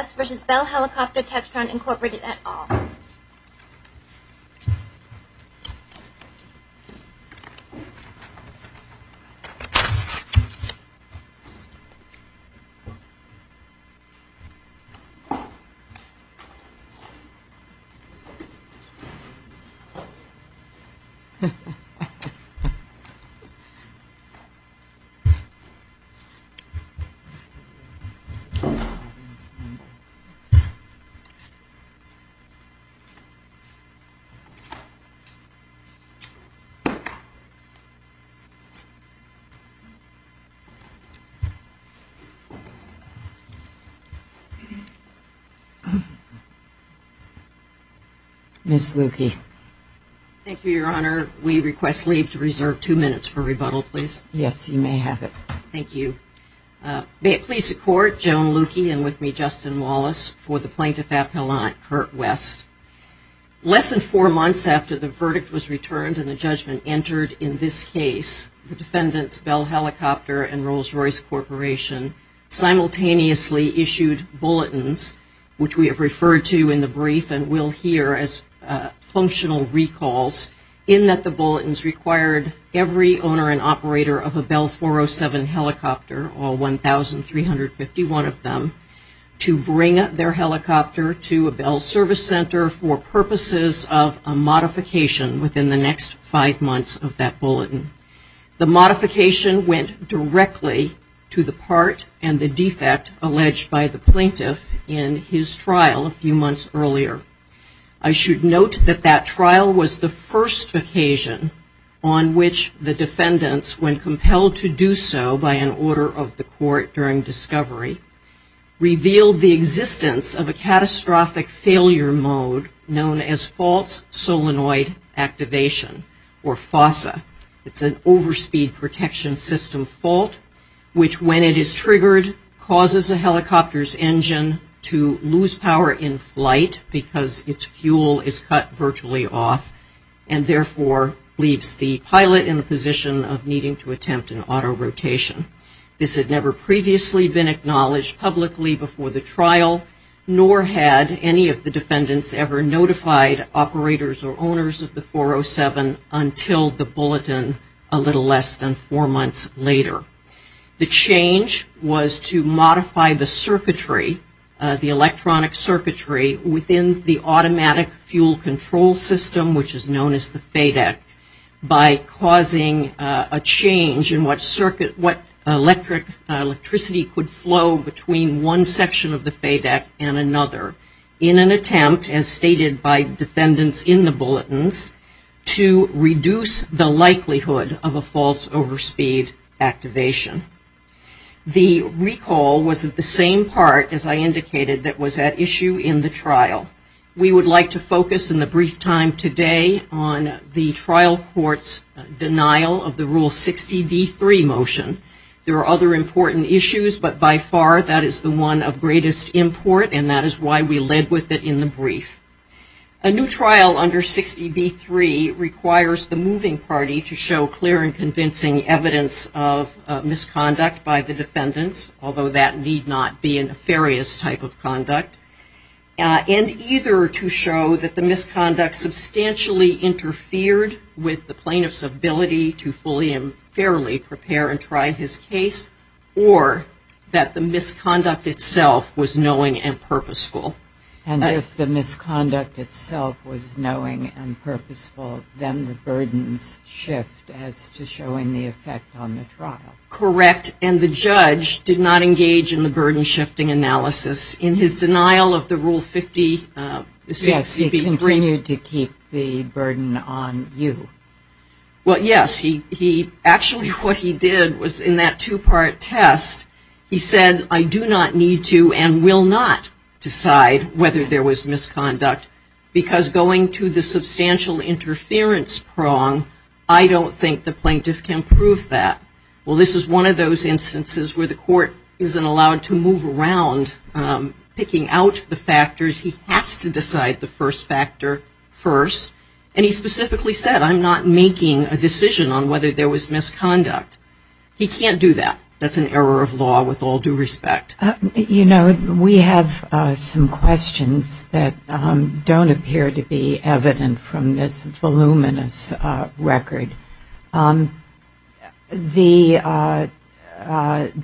v. Bell Helicopter Textron Incorporated et al. Thank you, Your Honor. We request leave to reserve two minutes for rebuttal, please. Yes, you may have it. Thank you. May it please the Court, Joan Lukey and with me, Justin Wallace, for the Plaintiff-Appellant, Kurt West. Less than four months after the verdict was returned and the judgment entered in this case, the defendants, Bell Helicopter and Rolls-Royce Corporation, simultaneously issued bulletins, which we have referred to in the brief and will hear as functional recalls, in that the bulletins required every owner and operator of a Bell 407 helicopter, all 1,351 of them, to bring their helicopter to a Bell service center for purposes of a modification within the next five months of that bulletin. The modification went directly to the part and the defect alleged by the plaintiff in his trial a few months earlier. I should note that that trial was the first occasion on which the defendants, when compelled to do so by an order of the court during discovery, revealed the existence of a catastrophic failure mode known as false solenoid activation or FOSA. It's an overspeed protection system fault which, when it is triggered, causes a helicopter's engine to lose power in flight because its fuel is cut virtually off and, therefore, leaves the pilot in a position of needing to attempt an auto rotation. This had never previously been acknowledged publicly before the trial, nor had any of the defendants ever notified operators or owners of the 407 until the bulletin a little less than four months later. The change was to modify the electronic circuitry within the automatic fuel control system, which is known as the FADEC, by causing a change in what circuit, what electric, electricity could flow between one section of the FADEC and another in an attempt, as stated by defendants in the bulletins, to reduce the likelihood of a false overspeed activation. The recall was the same part, as I indicated, that was at issue in the trial. We would like to focus in the brief time today on the trial court's denial of the Rule 60B3 motion. There are other important issues, but by far that is the one of greatest import and that is why we led with it in the brief. A new trial under 60B3 requires the moving party to show clear and convincing evidence of misconduct by the defendants, although that need not be a nefarious type of conduct, and either to show that the misconduct substantially interfered with the plaintiff's ability to fully and fairly prepare and try his case, or that the misconduct itself was knowing and purposeful. And if the misconduct itself was knowing and purposeful, then the burdens shift as to showing the effect on the trial. Correct, and the judge did not engage in the burden shifting analysis. In his denial of the Rule 50, 60B3. Yes, he continued to keep the burden on you. Well, yes. He, actually what he did was in that two-part test, he said, I do not need to and will not decide whether there was misconduct because going to the substantial interference prong, I don't think the plaintiff can prove that. Well, this is one of those instances where the court isn't allowed to move around picking out the factors. He has to decide the first factor first, and he specifically said, I'm not making a decision on whether there was misconduct. He can't do that. That's an error of law with all due respect. You know, we have some questions that don't appear to be evident from this voluminous record. The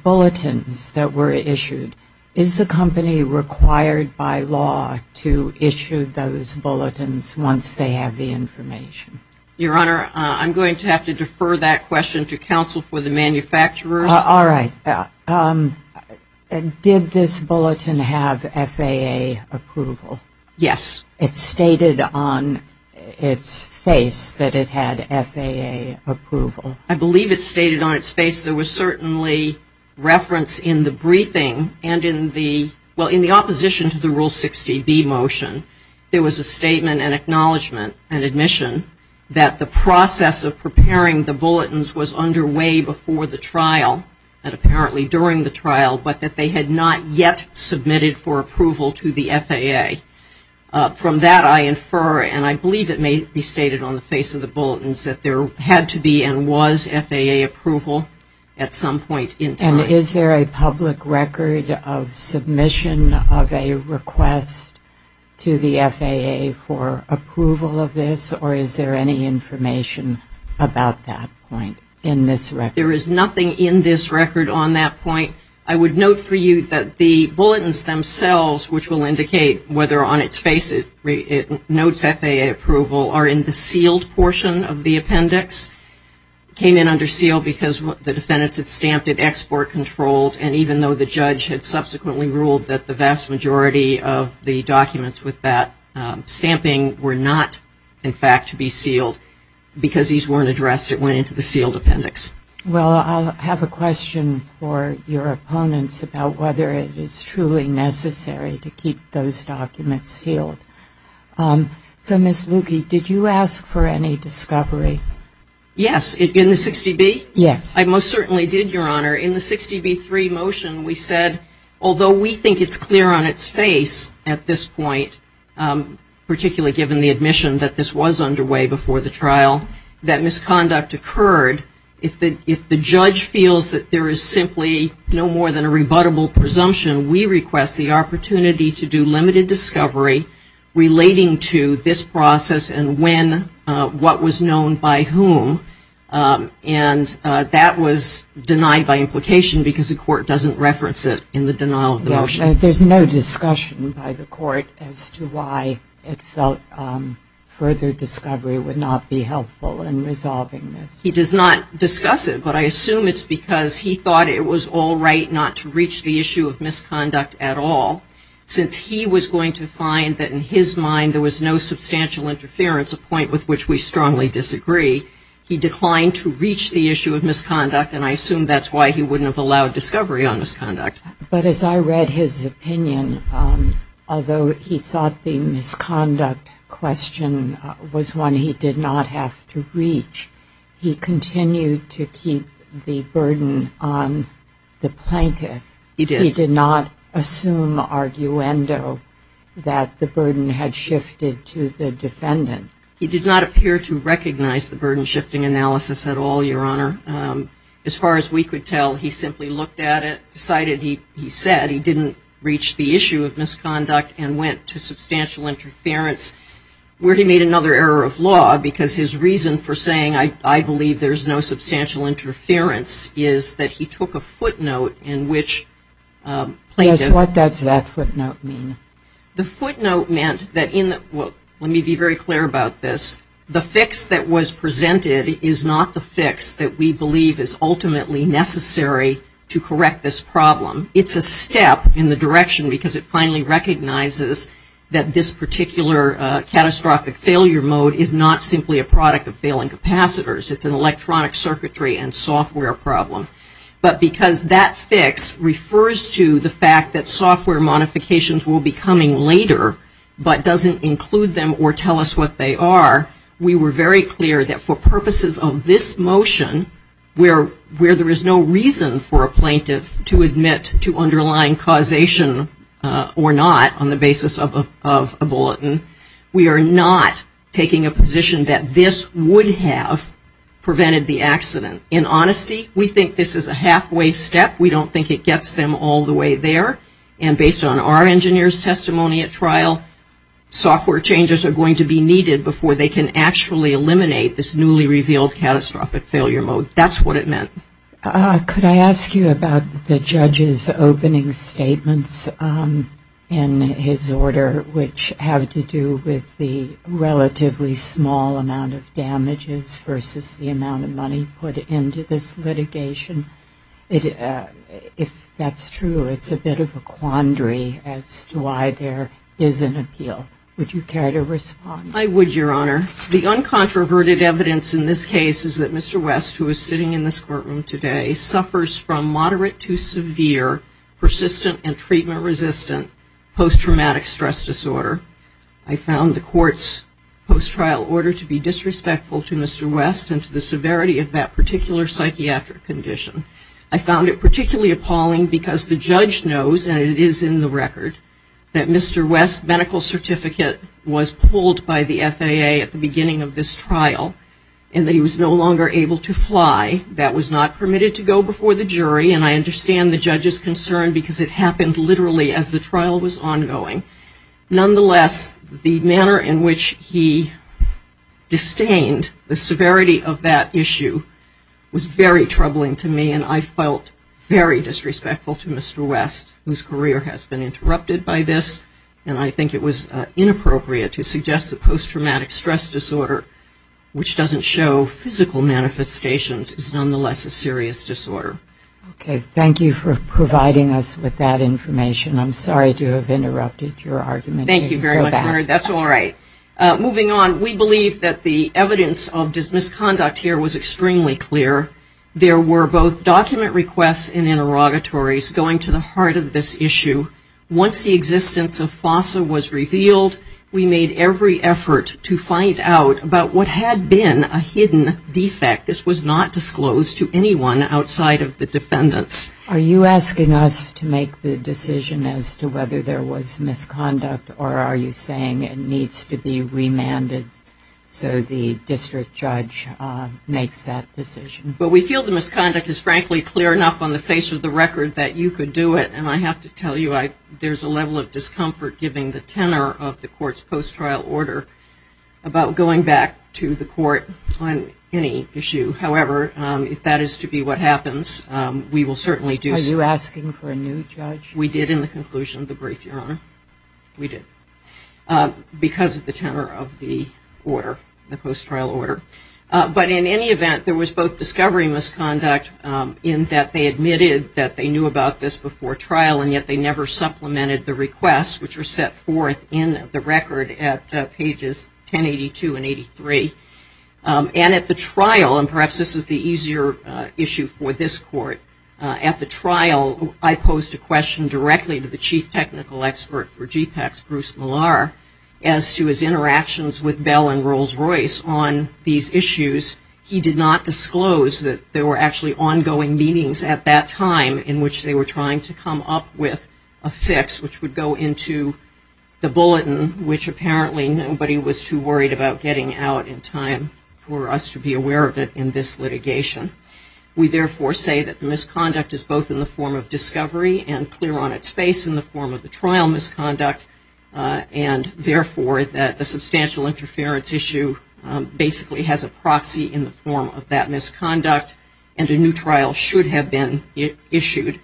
bulletins that were issued, is the company required by law to issue those bulletins once they have the information? Your Honor, I'm going to have to defer that question to counsel for the manufacturers. All right. Did this bulletin have FAA approval? Yes. It stated on its face that it had FAA approval. I believe it stated on its face there was certainly reference in the briefing and in the, well, in the opposition to the Rule 60B motion, there was a statement and acknowledgment and admission that the process of preparing the bulletins was underway before the trial and apparently during the trial, but that they had not yet submitted for approval to the FAA. From that I infer, and I believe it may be stated on the face of the bulletins, that there had to be and was FAA approval at some point in time. And is there a public record of submission of a request to the FAA for approval of the this, or is there any information about that point in this record? There is nothing in this record on that point. I would note for you that the bulletins themselves, which will indicate whether on its face it notes FAA approval, are in the sealed portion of the appendix. It came in under seal because the defendants had stamped it export controlled, and even though the judge had subsequently ruled that the vast majority of the documents with that stamping were not, in fact, to be sealed, because these weren't addressed, it went into the sealed appendix. Well, I'll have a question for your opponents about whether it is truly necessary to keep those documents sealed. So, Ms. Lukey, did you ask for any discovery? Yes. In the 60B? Yes. I most certainly did, Your Honor. In the 60B3 motion, we said, although we think it's clear on its face at this point, particularly given the admission that this was underway before the trial, that misconduct occurred, if the judge feels that there is simply no more than a rebuttable presumption, we request the opportunity to do limited discovery relating to this process and when, what was known by whom, and that was denied by implication because the court doesn't reference it in the denial of the motion. There's no discussion by the court as to why it felt further discovery would not be helpful in resolving this. He does not discuss it, but I assume it's because he thought it was all right not to reach the issue of misconduct at all, since he was going to find that in his mind there was no substantial interference, a point with which we strongly disagree. He declined to reach the issue of misconduct, and I assume that's why he wouldn't have allowed discovery on misconduct. But as I read his opinion, although he thought the misconduct question was one he did not have to reach, he continued to keep the burden on the plaintiff. He did. He did not assume arguendo that the burden had shifted to the defendant. He did not appear to recognize the burden shifting analysis at all, Your Honor. As far as we could tell, he simply looked at it, decided he said he didn't reach the issue of misconduct, and went to substantial interference, where he made another error of law because his reason for saying, I believe there's no substantial interference, is that he took a footnote in which plaintiff Yes, what does that footnote mean? The footnote meant that in the, well, let me be very clear about this. The fix that we believe is ultimately necessary to correct this problem. It's a step in the direction because it finally recognizes that this particular catastrophic failure mode is not simply a product of failing capacitors. It's an electronic circuitry and software problem. But because that fix refers to the fact that software modifications will be coming later but doesn't include them or tell us what they are, we were very clear that for purposes of this motion, where there is no reason for a plaintiff to admit to underlying causation or not on the basis of a bulletin, we are not taking a position that this would have prevented the accident. In honesty, we think this is a halfway step. We don't think it gets them all the way there. And based on our engineer's testimony at trial, software changes are going to be needed before they can actually eliminate this newly revealed catastrophic failure mode. That's what it meant. Could I ask you about the judge's opening statements in his order which have to do with the relatively small amount of damages versus the amount of money put into this litigation? If that's true, it's a bit of a quandary as to why there is an appeal. Would you care to respond? I would, Your Honor. The uncontroverted evidence in this case is that Mr. West, who is sitting in this courtroom today, suffers from moderate to severe persistent and treatment-resistant post-traumatic stress disorder. I found the court's post-trial order to be disrespectful to Mr. West and to the severity of that particular psychiatric condition. I found it particularly appalling because the judge knows, and it is in the record, that Mr. West's medical certificate was pulled by the FAA at the beginning of this trial and that he was no longer able to fly. That was not permitted to go before the jury, and I understand the judge's concern because it happened literally as the trial was ongoing. Nonetheless, the manner in which he disdained the severity of that issue was very troubling to me, and I felt very disrespectful to Mr. West, whose career has been interrupted by this, and I think it was inappropriate to suggest that post-traumatic stress disorder, which doesn't show physical manifestations, is nonetheless a serious disorder. Okay. Thank you for providing us with that information. I'm sorry to have interrupted your argument. Thank you very much, that's all right. Moving on, we believe that the evidence of this misconduct here was extremely clear. There were both document requests and interrogatories going to the heart of this issue. Once the existence of FOSA was revealed, we made every effort to find out about what had been a hidden defect. This was not disclosed to anyone outside of the defendants. Are you asking us to make the decision as to whether there was misconduct, or are you saying it needs to be remanded so the district judge makes that decision? We feel the misconduct is frankly clear enough on the face of the record that you could do it, and I have to tell you there's a level of discomfort, given the tenor of the court's post-trial order, about going back to the court on any issue. However, if that is to be what happens, we will certainly do so. Are you asking for a new judge? We did in the conclusion of the brief, Your Honor. We did. Because of the tenor of the order, the post-trial order. But in any event, there was both discovery and misconduct in that they admitted that they knew about this before trial, and yet they never supplemented the requests, which are set forth in the record at pages 1082 and 83. And at the trial, and perhaps this is the easier issue for this court, at the trial I posed a question directly to the chief technical expert for GPAC, Bruce Millar, as to his interactions with Bell and Rolls-Royce on these issues. He did not disclose that there were actually ongoing meetings at that time in which they were trying to come up with a fix, which would go into the bulletin, which apparently nobody was too worried about getting out in time for us to be aware of it in this litigation. We therefore say that the misconduct is both in the form of discovery and clear on its face in the form of the trial misconduct, and therefore that the substantial interference issue basically has a proxy in the form of that misconduct, and a new trial should have been issued.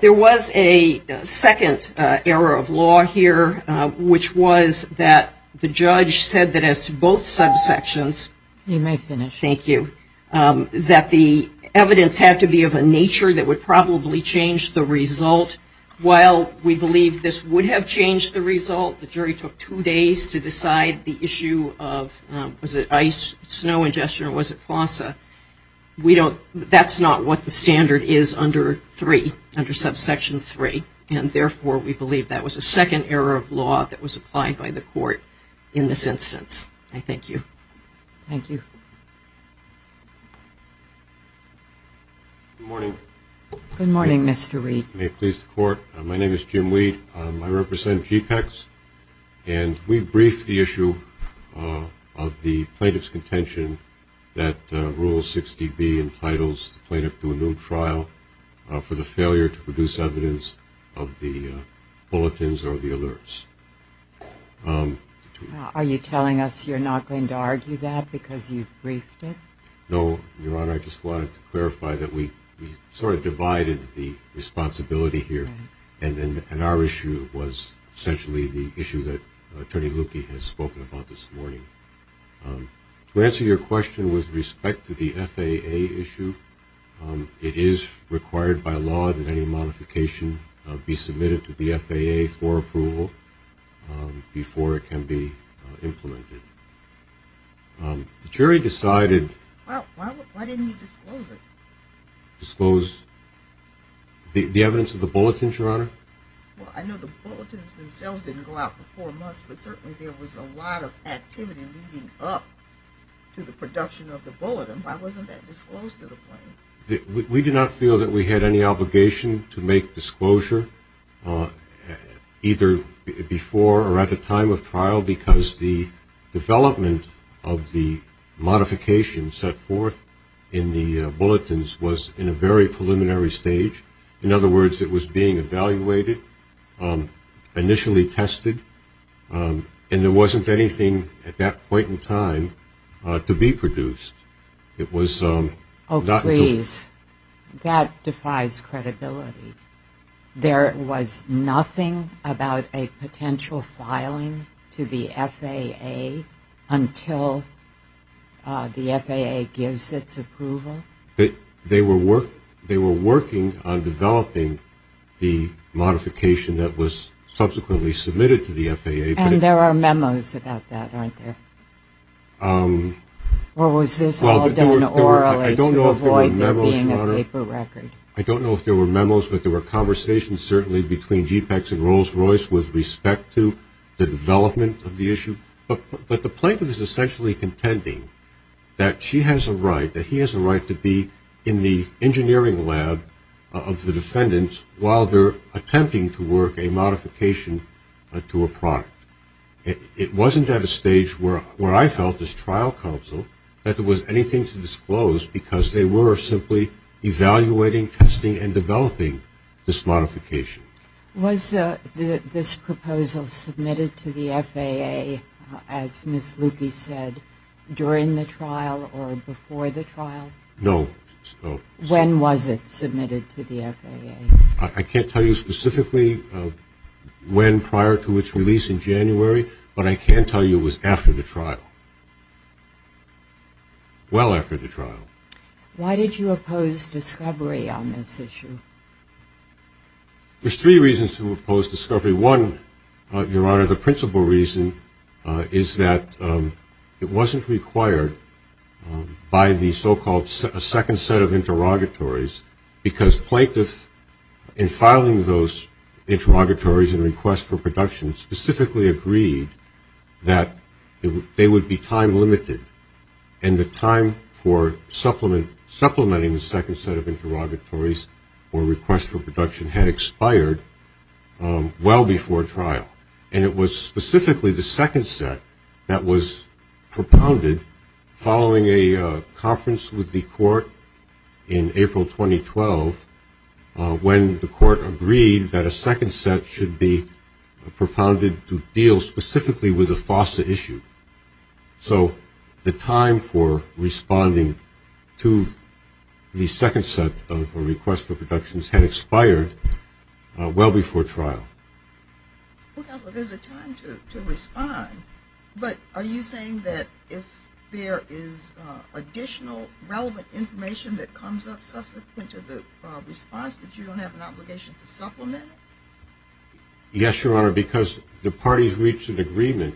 There was a second error of law here, which was that the judge said that as to both subsections He may finish. Thank you. That the evidence had to be of a nature that would probably change the result. While we believe this would have changed the result, the jury took two days to decide the issue of, was it ice, snow ingestion, or was it FOSSA, we don't, that's not what the standard is under 3, under subsection 3, and therefore we believe that was a second error of law that was applied by the court in this instance. I thank you. Thank you. Good morning. Good morning, Mr. Reid. May it please the court. My name is Jim Reid. I represent GPEX, and we briefed the issue of the plaintiff's contention that Rule 60B entitles the plaintiff to a new trial for the failure to produce evidence of the bulletins or the alerts. Are you telling us you're not going to argue that because you've briefed it? No, Your Honor, I just wanted to clarify that we sort of divided the responsibility here, and our issue was essentially the issue that Attorney Lukey has spoken about this morning. To answer your question with respect to the FAA issue, it is required by law that any modification be submitted to the FAA for approval before it can be implemented. The jury decided... Why didn't you disclose it? Disclose the evidence of the bulletins, Your Honor? Well, I know the bulletins themselves didn't go out for four months, but certainly there was a lot of activity leading up to the production of the bulletin. Why wasn't that disclosed to the plaintiff? We did not feel that we had any obligation to make disclosure either before or at the time of trial because the development of the modification set forth in the bulletins was in a very preliminary stage. In other words, it was being evaluated, initially tested, and there wasn't anything at that point in time to be produced. It was... Oh, please. That defies credibility. There was nothing about a potential filing to the FAA until the FAA gives its approval? They were working on developing the modification that was subsequently submitted to the FAA. And there are memos about that, aren't there? Or was this all done orally to avoid there being a paper record? I don't know if there were memos, but there were conversations, certainly, between JPECS and Rolls-Royce with respect to the development of the issue. But the plaintiff is essentially contending that she has a right, that he has a right to be in the engineering lab of the defendants while they're attempting to work a modification to a product. It wasn't at a stage where I felt as trial counsel that there was anything to disclose because they were simply evaluating, testing, and developing this modification. Was this proposal submitted to the FAA, as Ms. Lukey said, during the trial or before the trial? No. When was it submitted to the FAA? I can't tell you specifically when prior to its release in January, but I can tell you it was after the trial. Well after the trial. Why did you oppose discovery on this issue? There's three reasons to oppose discovery. One, Your Honor, the principal reason is that it wasn't required by the so-called second set of interrogatories because plaintiffs in filing those interrogatories and requests for production specifically agreed that they would be time limited and the time for supplementing the second set of interrogatories or requests for production had expired well before trial. And it was specifically the second set that was propounded following a conference with the court in April 2012 when the court agreed that a second set should be propounded to deal specifically with the FOSTA issue. So the time for responding to the second set of requests for productions had expired well before trial. Well, counsel, there's a time to respond, but are you saying that if there is additional relevant information that comes up subsequent to the response that you don't have an obligation to supplement it? Yes, Your Honor, because the parties reached an agreement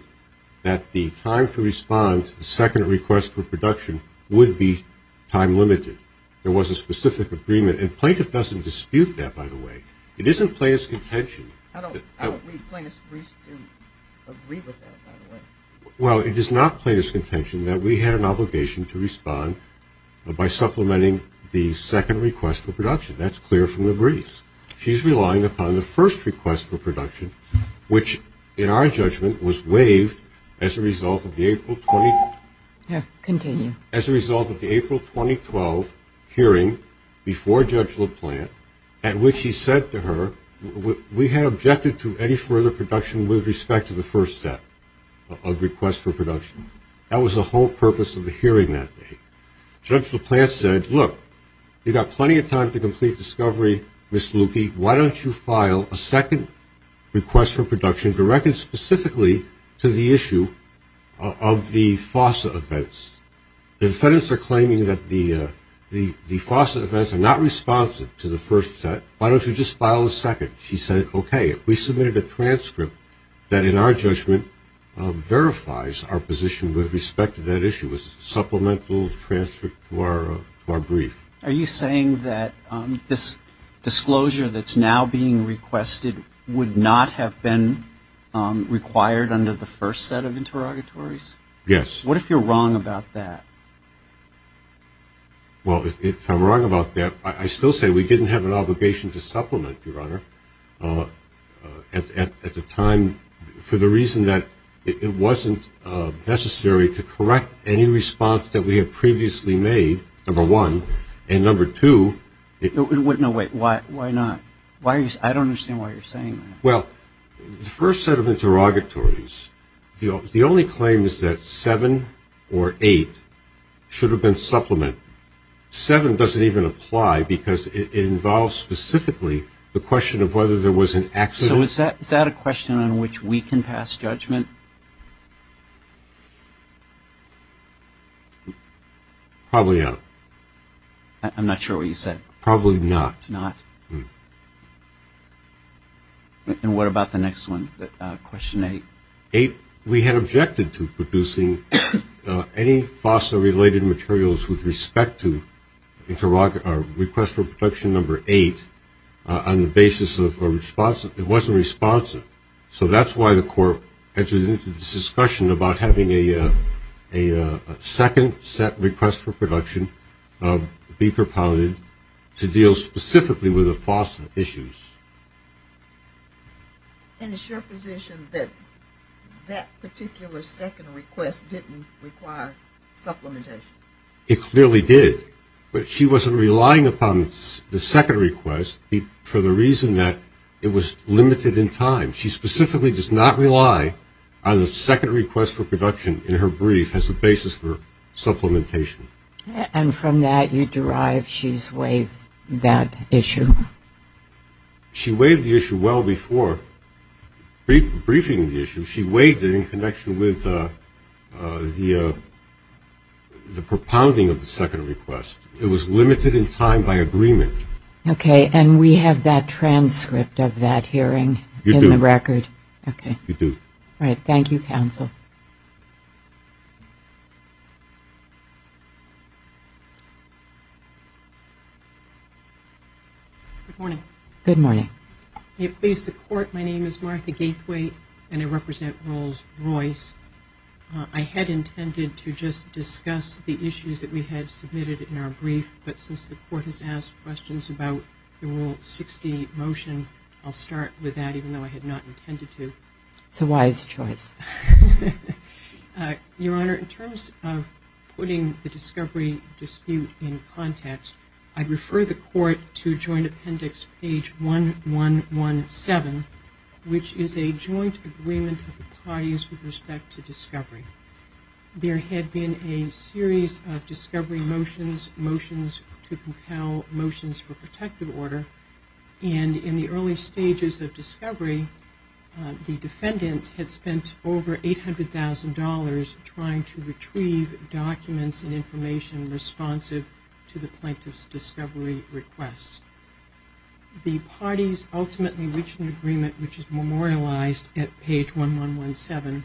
that the time to respond to the second request for production would be time limited. There was a specific agreement, and plaintiff doesn't dispute that, by the way. It isn't plaintiff's contention. I don't read plaintiff's brief to agree with that, by the way. Well, it is not plaintiff's contention that we had an obligation to respond by supplementing the second request for production. That's clear from the briefs. She's relying upon the first request for production, which in our judgment was waived as a result of the April 2012 hearing before Judge LaPlante, at which he said to her, we had objected to any further production with respect to the first set of requests for production. That was the whole purpose of the hearing that day. Judge LaPlante said, look, you've got plenty of time to complete discovery, Ms. Lucchi. Why don't you file a second request for production directed specifically to the issue of the FOSA offense? The defendants are claiming that the FOSA offense are not responsive to the first set. Why don't you just file a second? She said, okay, if we submitted a transcript that in our judgment verifies our position with respect to that issue as a supplemental transcript to our brief. Are you saying that this disclosure that's now being requested would not have been required under the first set of interrogatories? Yes. What if you're wrong about that? Well, if I'm wrong about that, I still say we didn't have an obligation to supplement, Your Honor, at the time for the reason that it wasn't necessary to correct any response that we had previously made, number one. And number two... No, wait, why not? I don't understand why you're saying that. Well, the first set of interrogatories, the only claim is that seven or eight should have been Seven doesn't even apply because it involves specifically the question of whether there was an accident. So is that a question on which we can pass judgment? Probably not. I'm not sure what you said. Probably not. Not. And what about the next one, question eight? We had objected to producing any FOSA-related materials with respect to request for production number eight on the basis of a response that wasn't responsive. So that's why the court entered into this discussion about having a second set request for production be propounded to deal specifically with the FOSA issues. And is your position that that particular second request didn't require supplementation? It clearly did. But she wasn't relying upon the second request for the reason that it was limited in time. She specifically does not rely on the second request for production in her brief as a basis for supplementation. And from that you derive she's waived that issue? She waived the issue well before briefing the issue. She waived it in connection with the propounding of the second request. It was limited in time by agreement. Okay. And we have that transcript of that hearing in the record? You do. Okay. You do. All right. Thank you, counsel. Good morning. Good morning. May it please the court, my name is Martha Gaithway and I represent Rolls-Royce. I had intended to just discuss the issues that we had submitted in our brief, but since the court has asked questions about the Rule 60 motion, I'll start with that even though I had not intended to. It's a wise choice. Your Honor, in terms of putting the discovery dispute in context, I'd refer the court to joint appendix page 1117, which is a joint agreement of the parties with respect to discovery. There had been a series of discovery motions, motions to compel motions for protective order, and in the early stages of discovery, the defendants had spent over $800,000 trying to retrieve documents and information responsive to the plaintiff's discovery requests. The parties ultimately reached an agreement, which is memorialized at page 1117,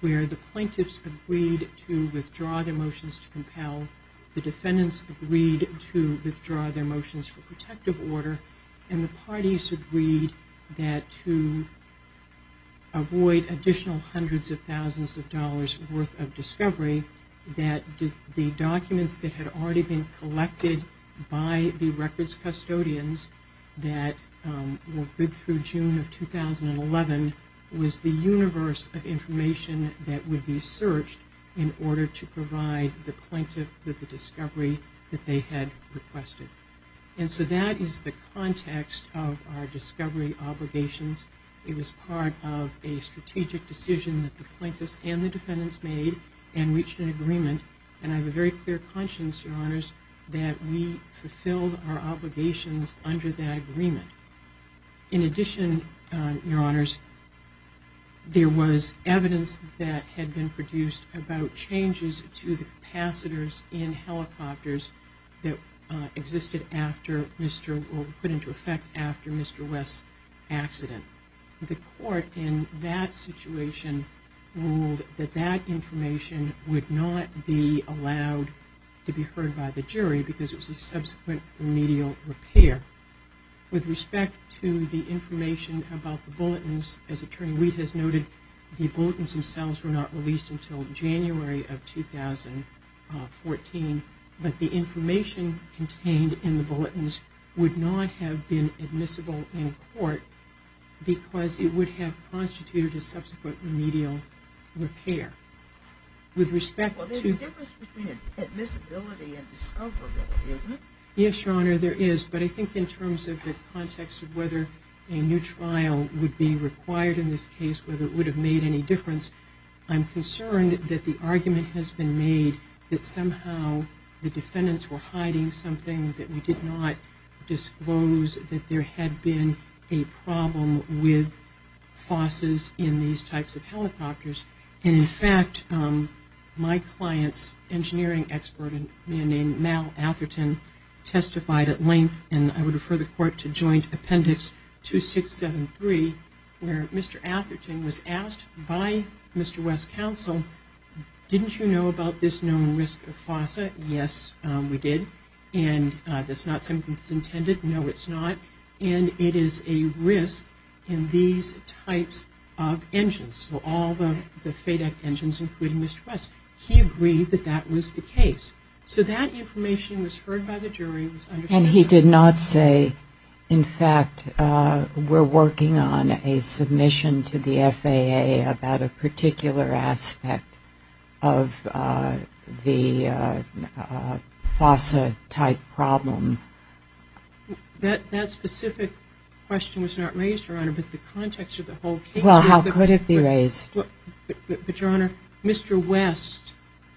where the plaintiffs agreed to withdraw their motions to compel, the defendants agreed to withdraw their motions for protective order, and the parties agreed that to avoid additional hundreds of thousands of dollars worth of discovery, that the documents that had already been collected by the records custodians that were bid through June of 2011, was the universe of information that would be searched in order to provide the plaintiff with the discovery that they had requested. And so that is the context of our discovery obligations. It was part of a strategic decision that the plaintiffs and the defendants made and reached an agreement, and I have a very clear conscience, Your Honors, that we fulfilled our obligations under that agreement. In addition, Your Honors, there was evidence that had been produced about changes to the capacitors in helicopters that existed after Mr., or were put into effect after Mr. West's accident. The court in that situation ruled that that information would not be allowed to be heard by the jury because it was a subsequent remedial repair. With respect to the information about the bulletins, as Attorney Wheat has noted, the bulletins themselves were not released until January of 2014, but the information contained in the bulletins would not have been admissible in court because it would have constituted a subsequent remedial repair. With respect to... Well, there's a difference between admissibility and discoverability, isn't there? Yes, Your Honor, there is, but I think in terms of the context of whether a new trial would be required in this case, whether it would have made any difference, I'm concerned that the argument has been made that somehow the defendants were hiding something, that we did not disclose, that there had been a problem with FOSSs in these types of helicopters. And, in fact, my client's engineering expert, a man named Mal Atherton, testified at length, and I would refer the court to Joint Appendix 2673, where Mr. Atherton was asked by Mr. West's counsel, didn't you know about this known risk of FOSSs? Yes, we did. And that's not something that's intended? No, it's not. And it is a risk in these types of engines. So all the FADEC engines, including Mr. West. He agreed that that was the case. So that information was heard by the jury. And he did not say, in fact, we're working on a submission to the FAA about a particular aspect of the FOSS type problem? That specific question was not raised, Your Honor, but the context of the whole case... Well, how could it be raised? But, Your Honor, Mr. West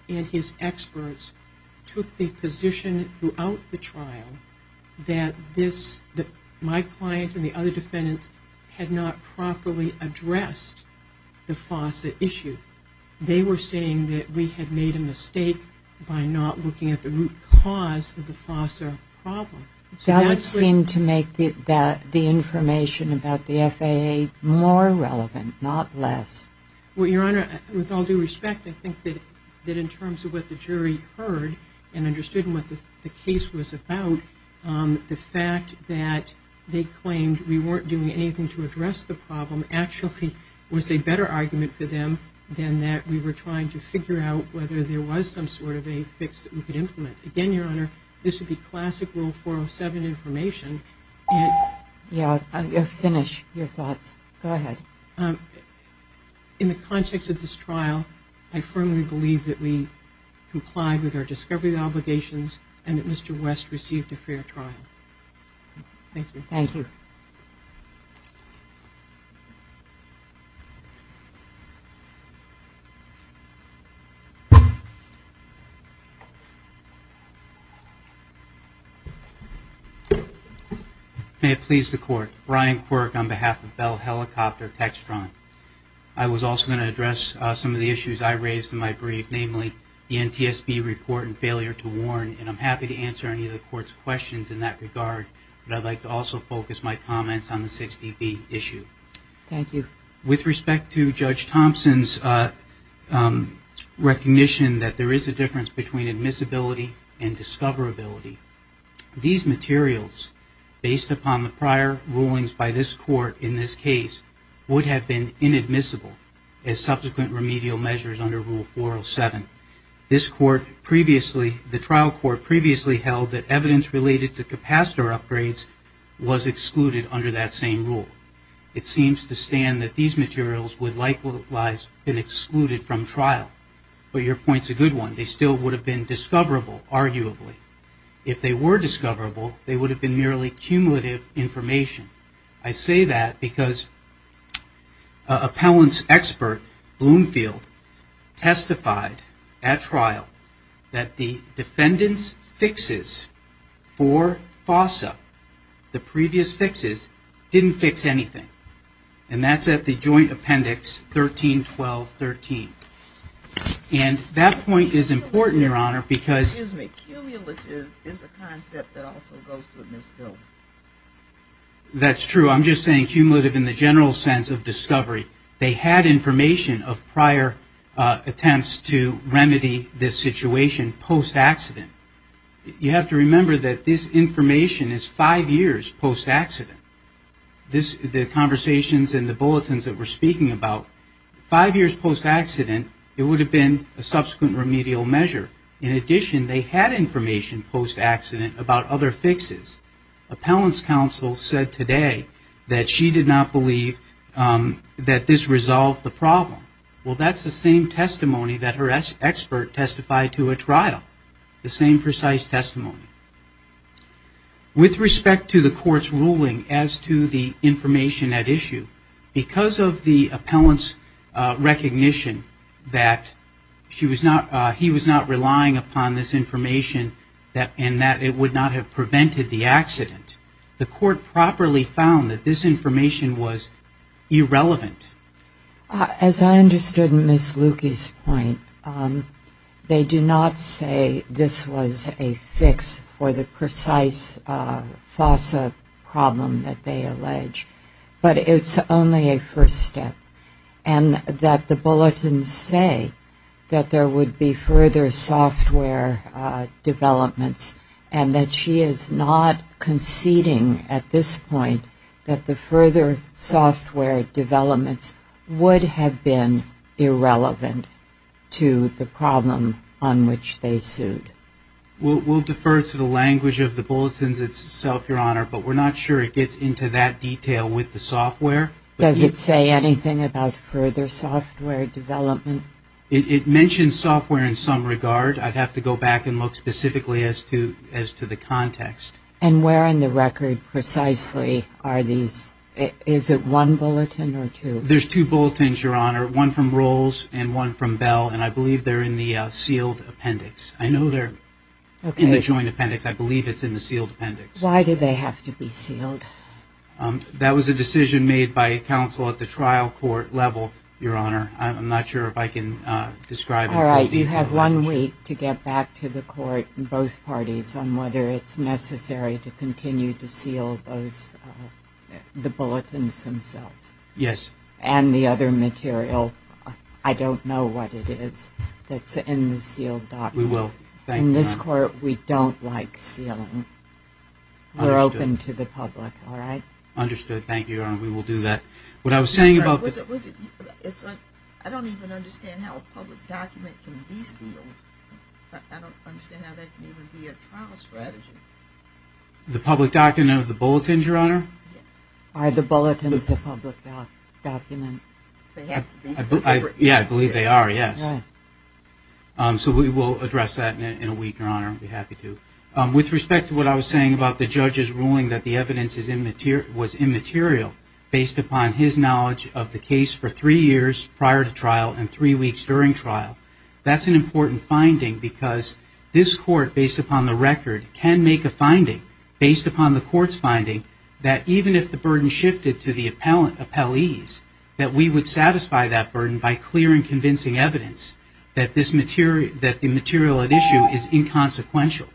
and his experts took the position throughout the trial that my client and the other defendants had not properly addressed the FOSS issue. They were saying that we had made a mistake by not looking at the root cause of the FOSS problem. That would seem to make the information about the FAA more relevant, not less. Well, Your Honor, with all due respect, I think that in terms of what the jury heard and understood what the case was about, the fact that they claimed we weren't doing anything to address the problem actually was a better argument for them than that we were trying to figure out whether there was some sort of a fix that we could implement. Again, Your Honor, this would be classic Rule 407 information. Yeah, finish your thoughts. Go ahead. In the context of this trial, I firmly believe that we complied with our discovery obligations and that Mr. West received a fair trial. Thank you. Thank you. May it please the Court. Brian Quirk on behalf of Bell Helicopter Textron. I was also going to address some of the issues I raised in my brief, namely the NTSB report and failure to warn, and I'm happy to answer any of the Court's questions in that regard, but I'd like to also focus my comments on the 60B issue. Thank you. With respect to Judge Thompson's recognition that there is a difference between admissibility and discoverability, these materials, based upon the prior rulings by this Court in this case, would have been inadmissible as subsequent remedial measures under Rule 407. The trial court previously held that evidence related to capacitor upgrades was excluded under that same rule. It seems to stand that these materials would likewise have been excluded from trial, but your point's a good one. They still would have been discoverable, arguably. If they were discoverable, they would have been merely cumulative information. I say that because appellant's expert, Bloomfield, testified at trial that the defendant's fixes for FOSA, the previous fixes, didn't fix anything. And that's at the joint appendix 13-12-13. And that point is important, Your Honor, because... Excuse me. Cumulative is a concept that also goes to admissibility. That's true. I'm just saying cumulative in the general sense of discovery. They had information of prior attempts to remedy this situation post-accident. You have to remember that this information is five years post-accident. The conversations and the bulletins that we're speaking about, five years post-accident, it would have been a subsequent remedial measure. In addition, they had information post-accident about other fixes. Appellant's counsel said today that she did not believe that this resolved the problem. Well, that's the same testimony that her expert testified to at trial, the same precise testimony. With respect to the court's ruling as to the information at issue, because of the appellant's recognition that he was not relying upon this information and that it would not have prevented the accident, the court properly found that this information was irrelevant. As I understood Ms. Lukey's point, they do not say this was a fix for the precise FOSA problem that they allege. But it's only a first step. And that the bulletins say that there would be further software developments and that she is not conceding at this point that the further software developments would have been irrelevant to the problem on which they sued. We'll defer to the language of the bulletins itself, Your Honor, but we're not sure it gets into that detail with the software. Does it say anything about further software development? It mentions software in some regard. I'd have to go back and look specifically as to the context. And where on the record precisely are these? Is it one bulletin or two? There's two bulletins, Your Honor, one from Rolls and one from Bell, and I believe they're in the sealed appendix. I know they're in the joint appendix. I believe it's in the sealed appendix. Why did they have to be sealed? That was a decision made by counsel at the trial court level, Your Honor. I'm not sure if I can describe it in full detail. You have one week to get back to the court and both parties on whether it's necessary to continue to seal the bulletins themselves. Yes. And the other material. I don't know what it is that's in the sealed document. We will. In this court, we don't like sealing. We're open to the public, all right? Understood. Thank you, Your Honor. We will do that. I don't even understand how a public document can be sealed. I don't understand how that can even be a trial strategy. The public document of the bulletins, Your Honor? Yes. Are the bulletins a public document? I believe they are, yes. So we will address that in a week, Your Honor. I'd be happy to. With respect to what I was saying about the judge's ruling that the evidence was immaterial, based upon his knowledge of the case for three years prior to trial and three weeks during trial, that's an important finding because this court, based upon the record, can make a finding based upon the court's finding that even if the burden shifted to the appellees, that we would satisfy that burden by clearing convincing evidence that the material at issue is inconsequential.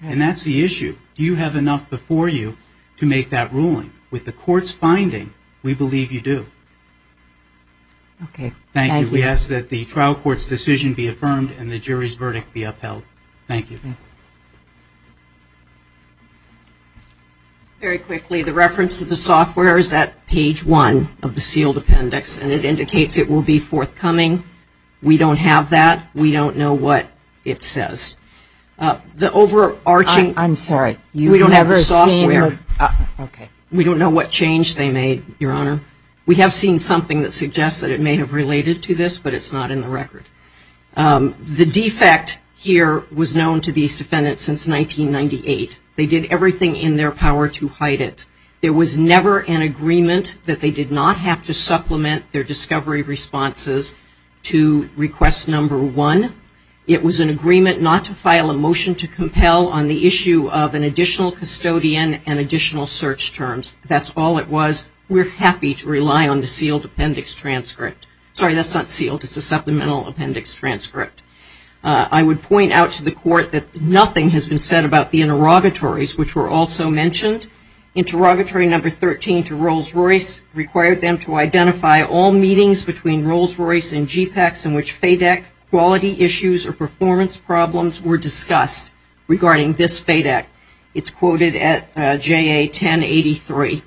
And that's the issue. Do you have enough before you to make that ruling? With the court's finding, we believe you do. Okay. Thank you. We ask that the trial court's decision be affirmed and the jury's verdict be upheld. Thank you. Very quickly, the reference to the software is at page one of the sealed appendix, and it indicates it will be forthcoming. We don't have that. We don't know what it says. I'm sorry. We don't have the software. Okay. We don't know what change they made, Your Honor. We have seen something that suggests that it may have related to this, but it's not in the record. The defect here was known to these defendants since 1998. They did everything in their power to hide it. There was never an agreement that they did not have to supplement their discovery responses to request number one. It was an agreement not to file a motion to compel on the issue of an additional custodian and additional search terms. That's all it was. We're happy to rely on the sealed appendix transcript. Sorry, that's not sealed. It's a supplemental appendix transcript. I would point out to the court that nothing has been said about the interrogatories, which were also mentioned. Interrogatory number 13 to Rolls-Royce required them to identify all meetings between Rolls-Royce and GPACS in which FADEC quality issues or performance problems were discussed regarding this FADEC. It's quoted at JA-1083.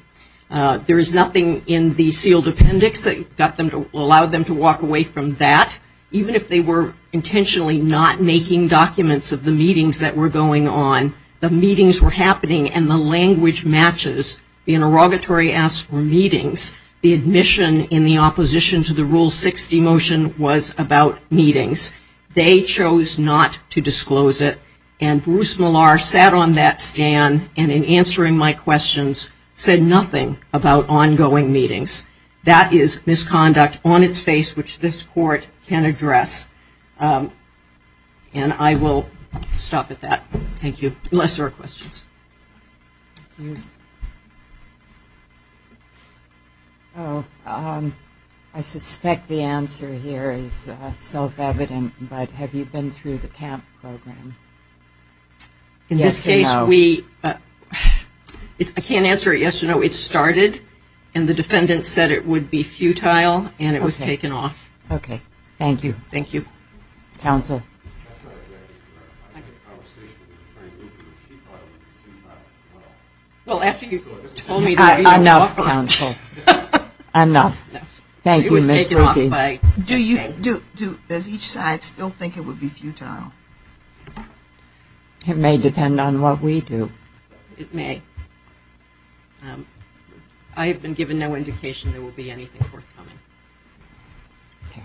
There is nothing in the sealed appendix that allowed them to walk away from that, even if they were intentionally not making documents of the meetings that were going on. The meetings were happening and the language matches. The interrogatory asked for meetings. The admission in the opposition to the Rule 60 motion was about meetings. They chose not to disclose it, and Bruce Millar sat on that stand and in answering my questions said nothing about ongoing meetings. That is misconduct on its face, which this court can address. And I will stop at that. Thank you. Unless there are questions. I suspect the answer here is self-evident, but have you been through the TAMP program? In this case, we – I can't answer a yes or no. It started and the defendant said it would be futile and it was taken off. Okay. Thank you. Thank you. Counsel. I had a conversation with Attorney Lukey and she thought it was futile as well. Well, after you told me to – Enough, counsel. Enough. Thank you, Ms. Lukey. It was taken off by – Do you – does each side still think it would be futile? It may depend on what we do. It may. I have been given no indication there will be anything forthcoming. Okay.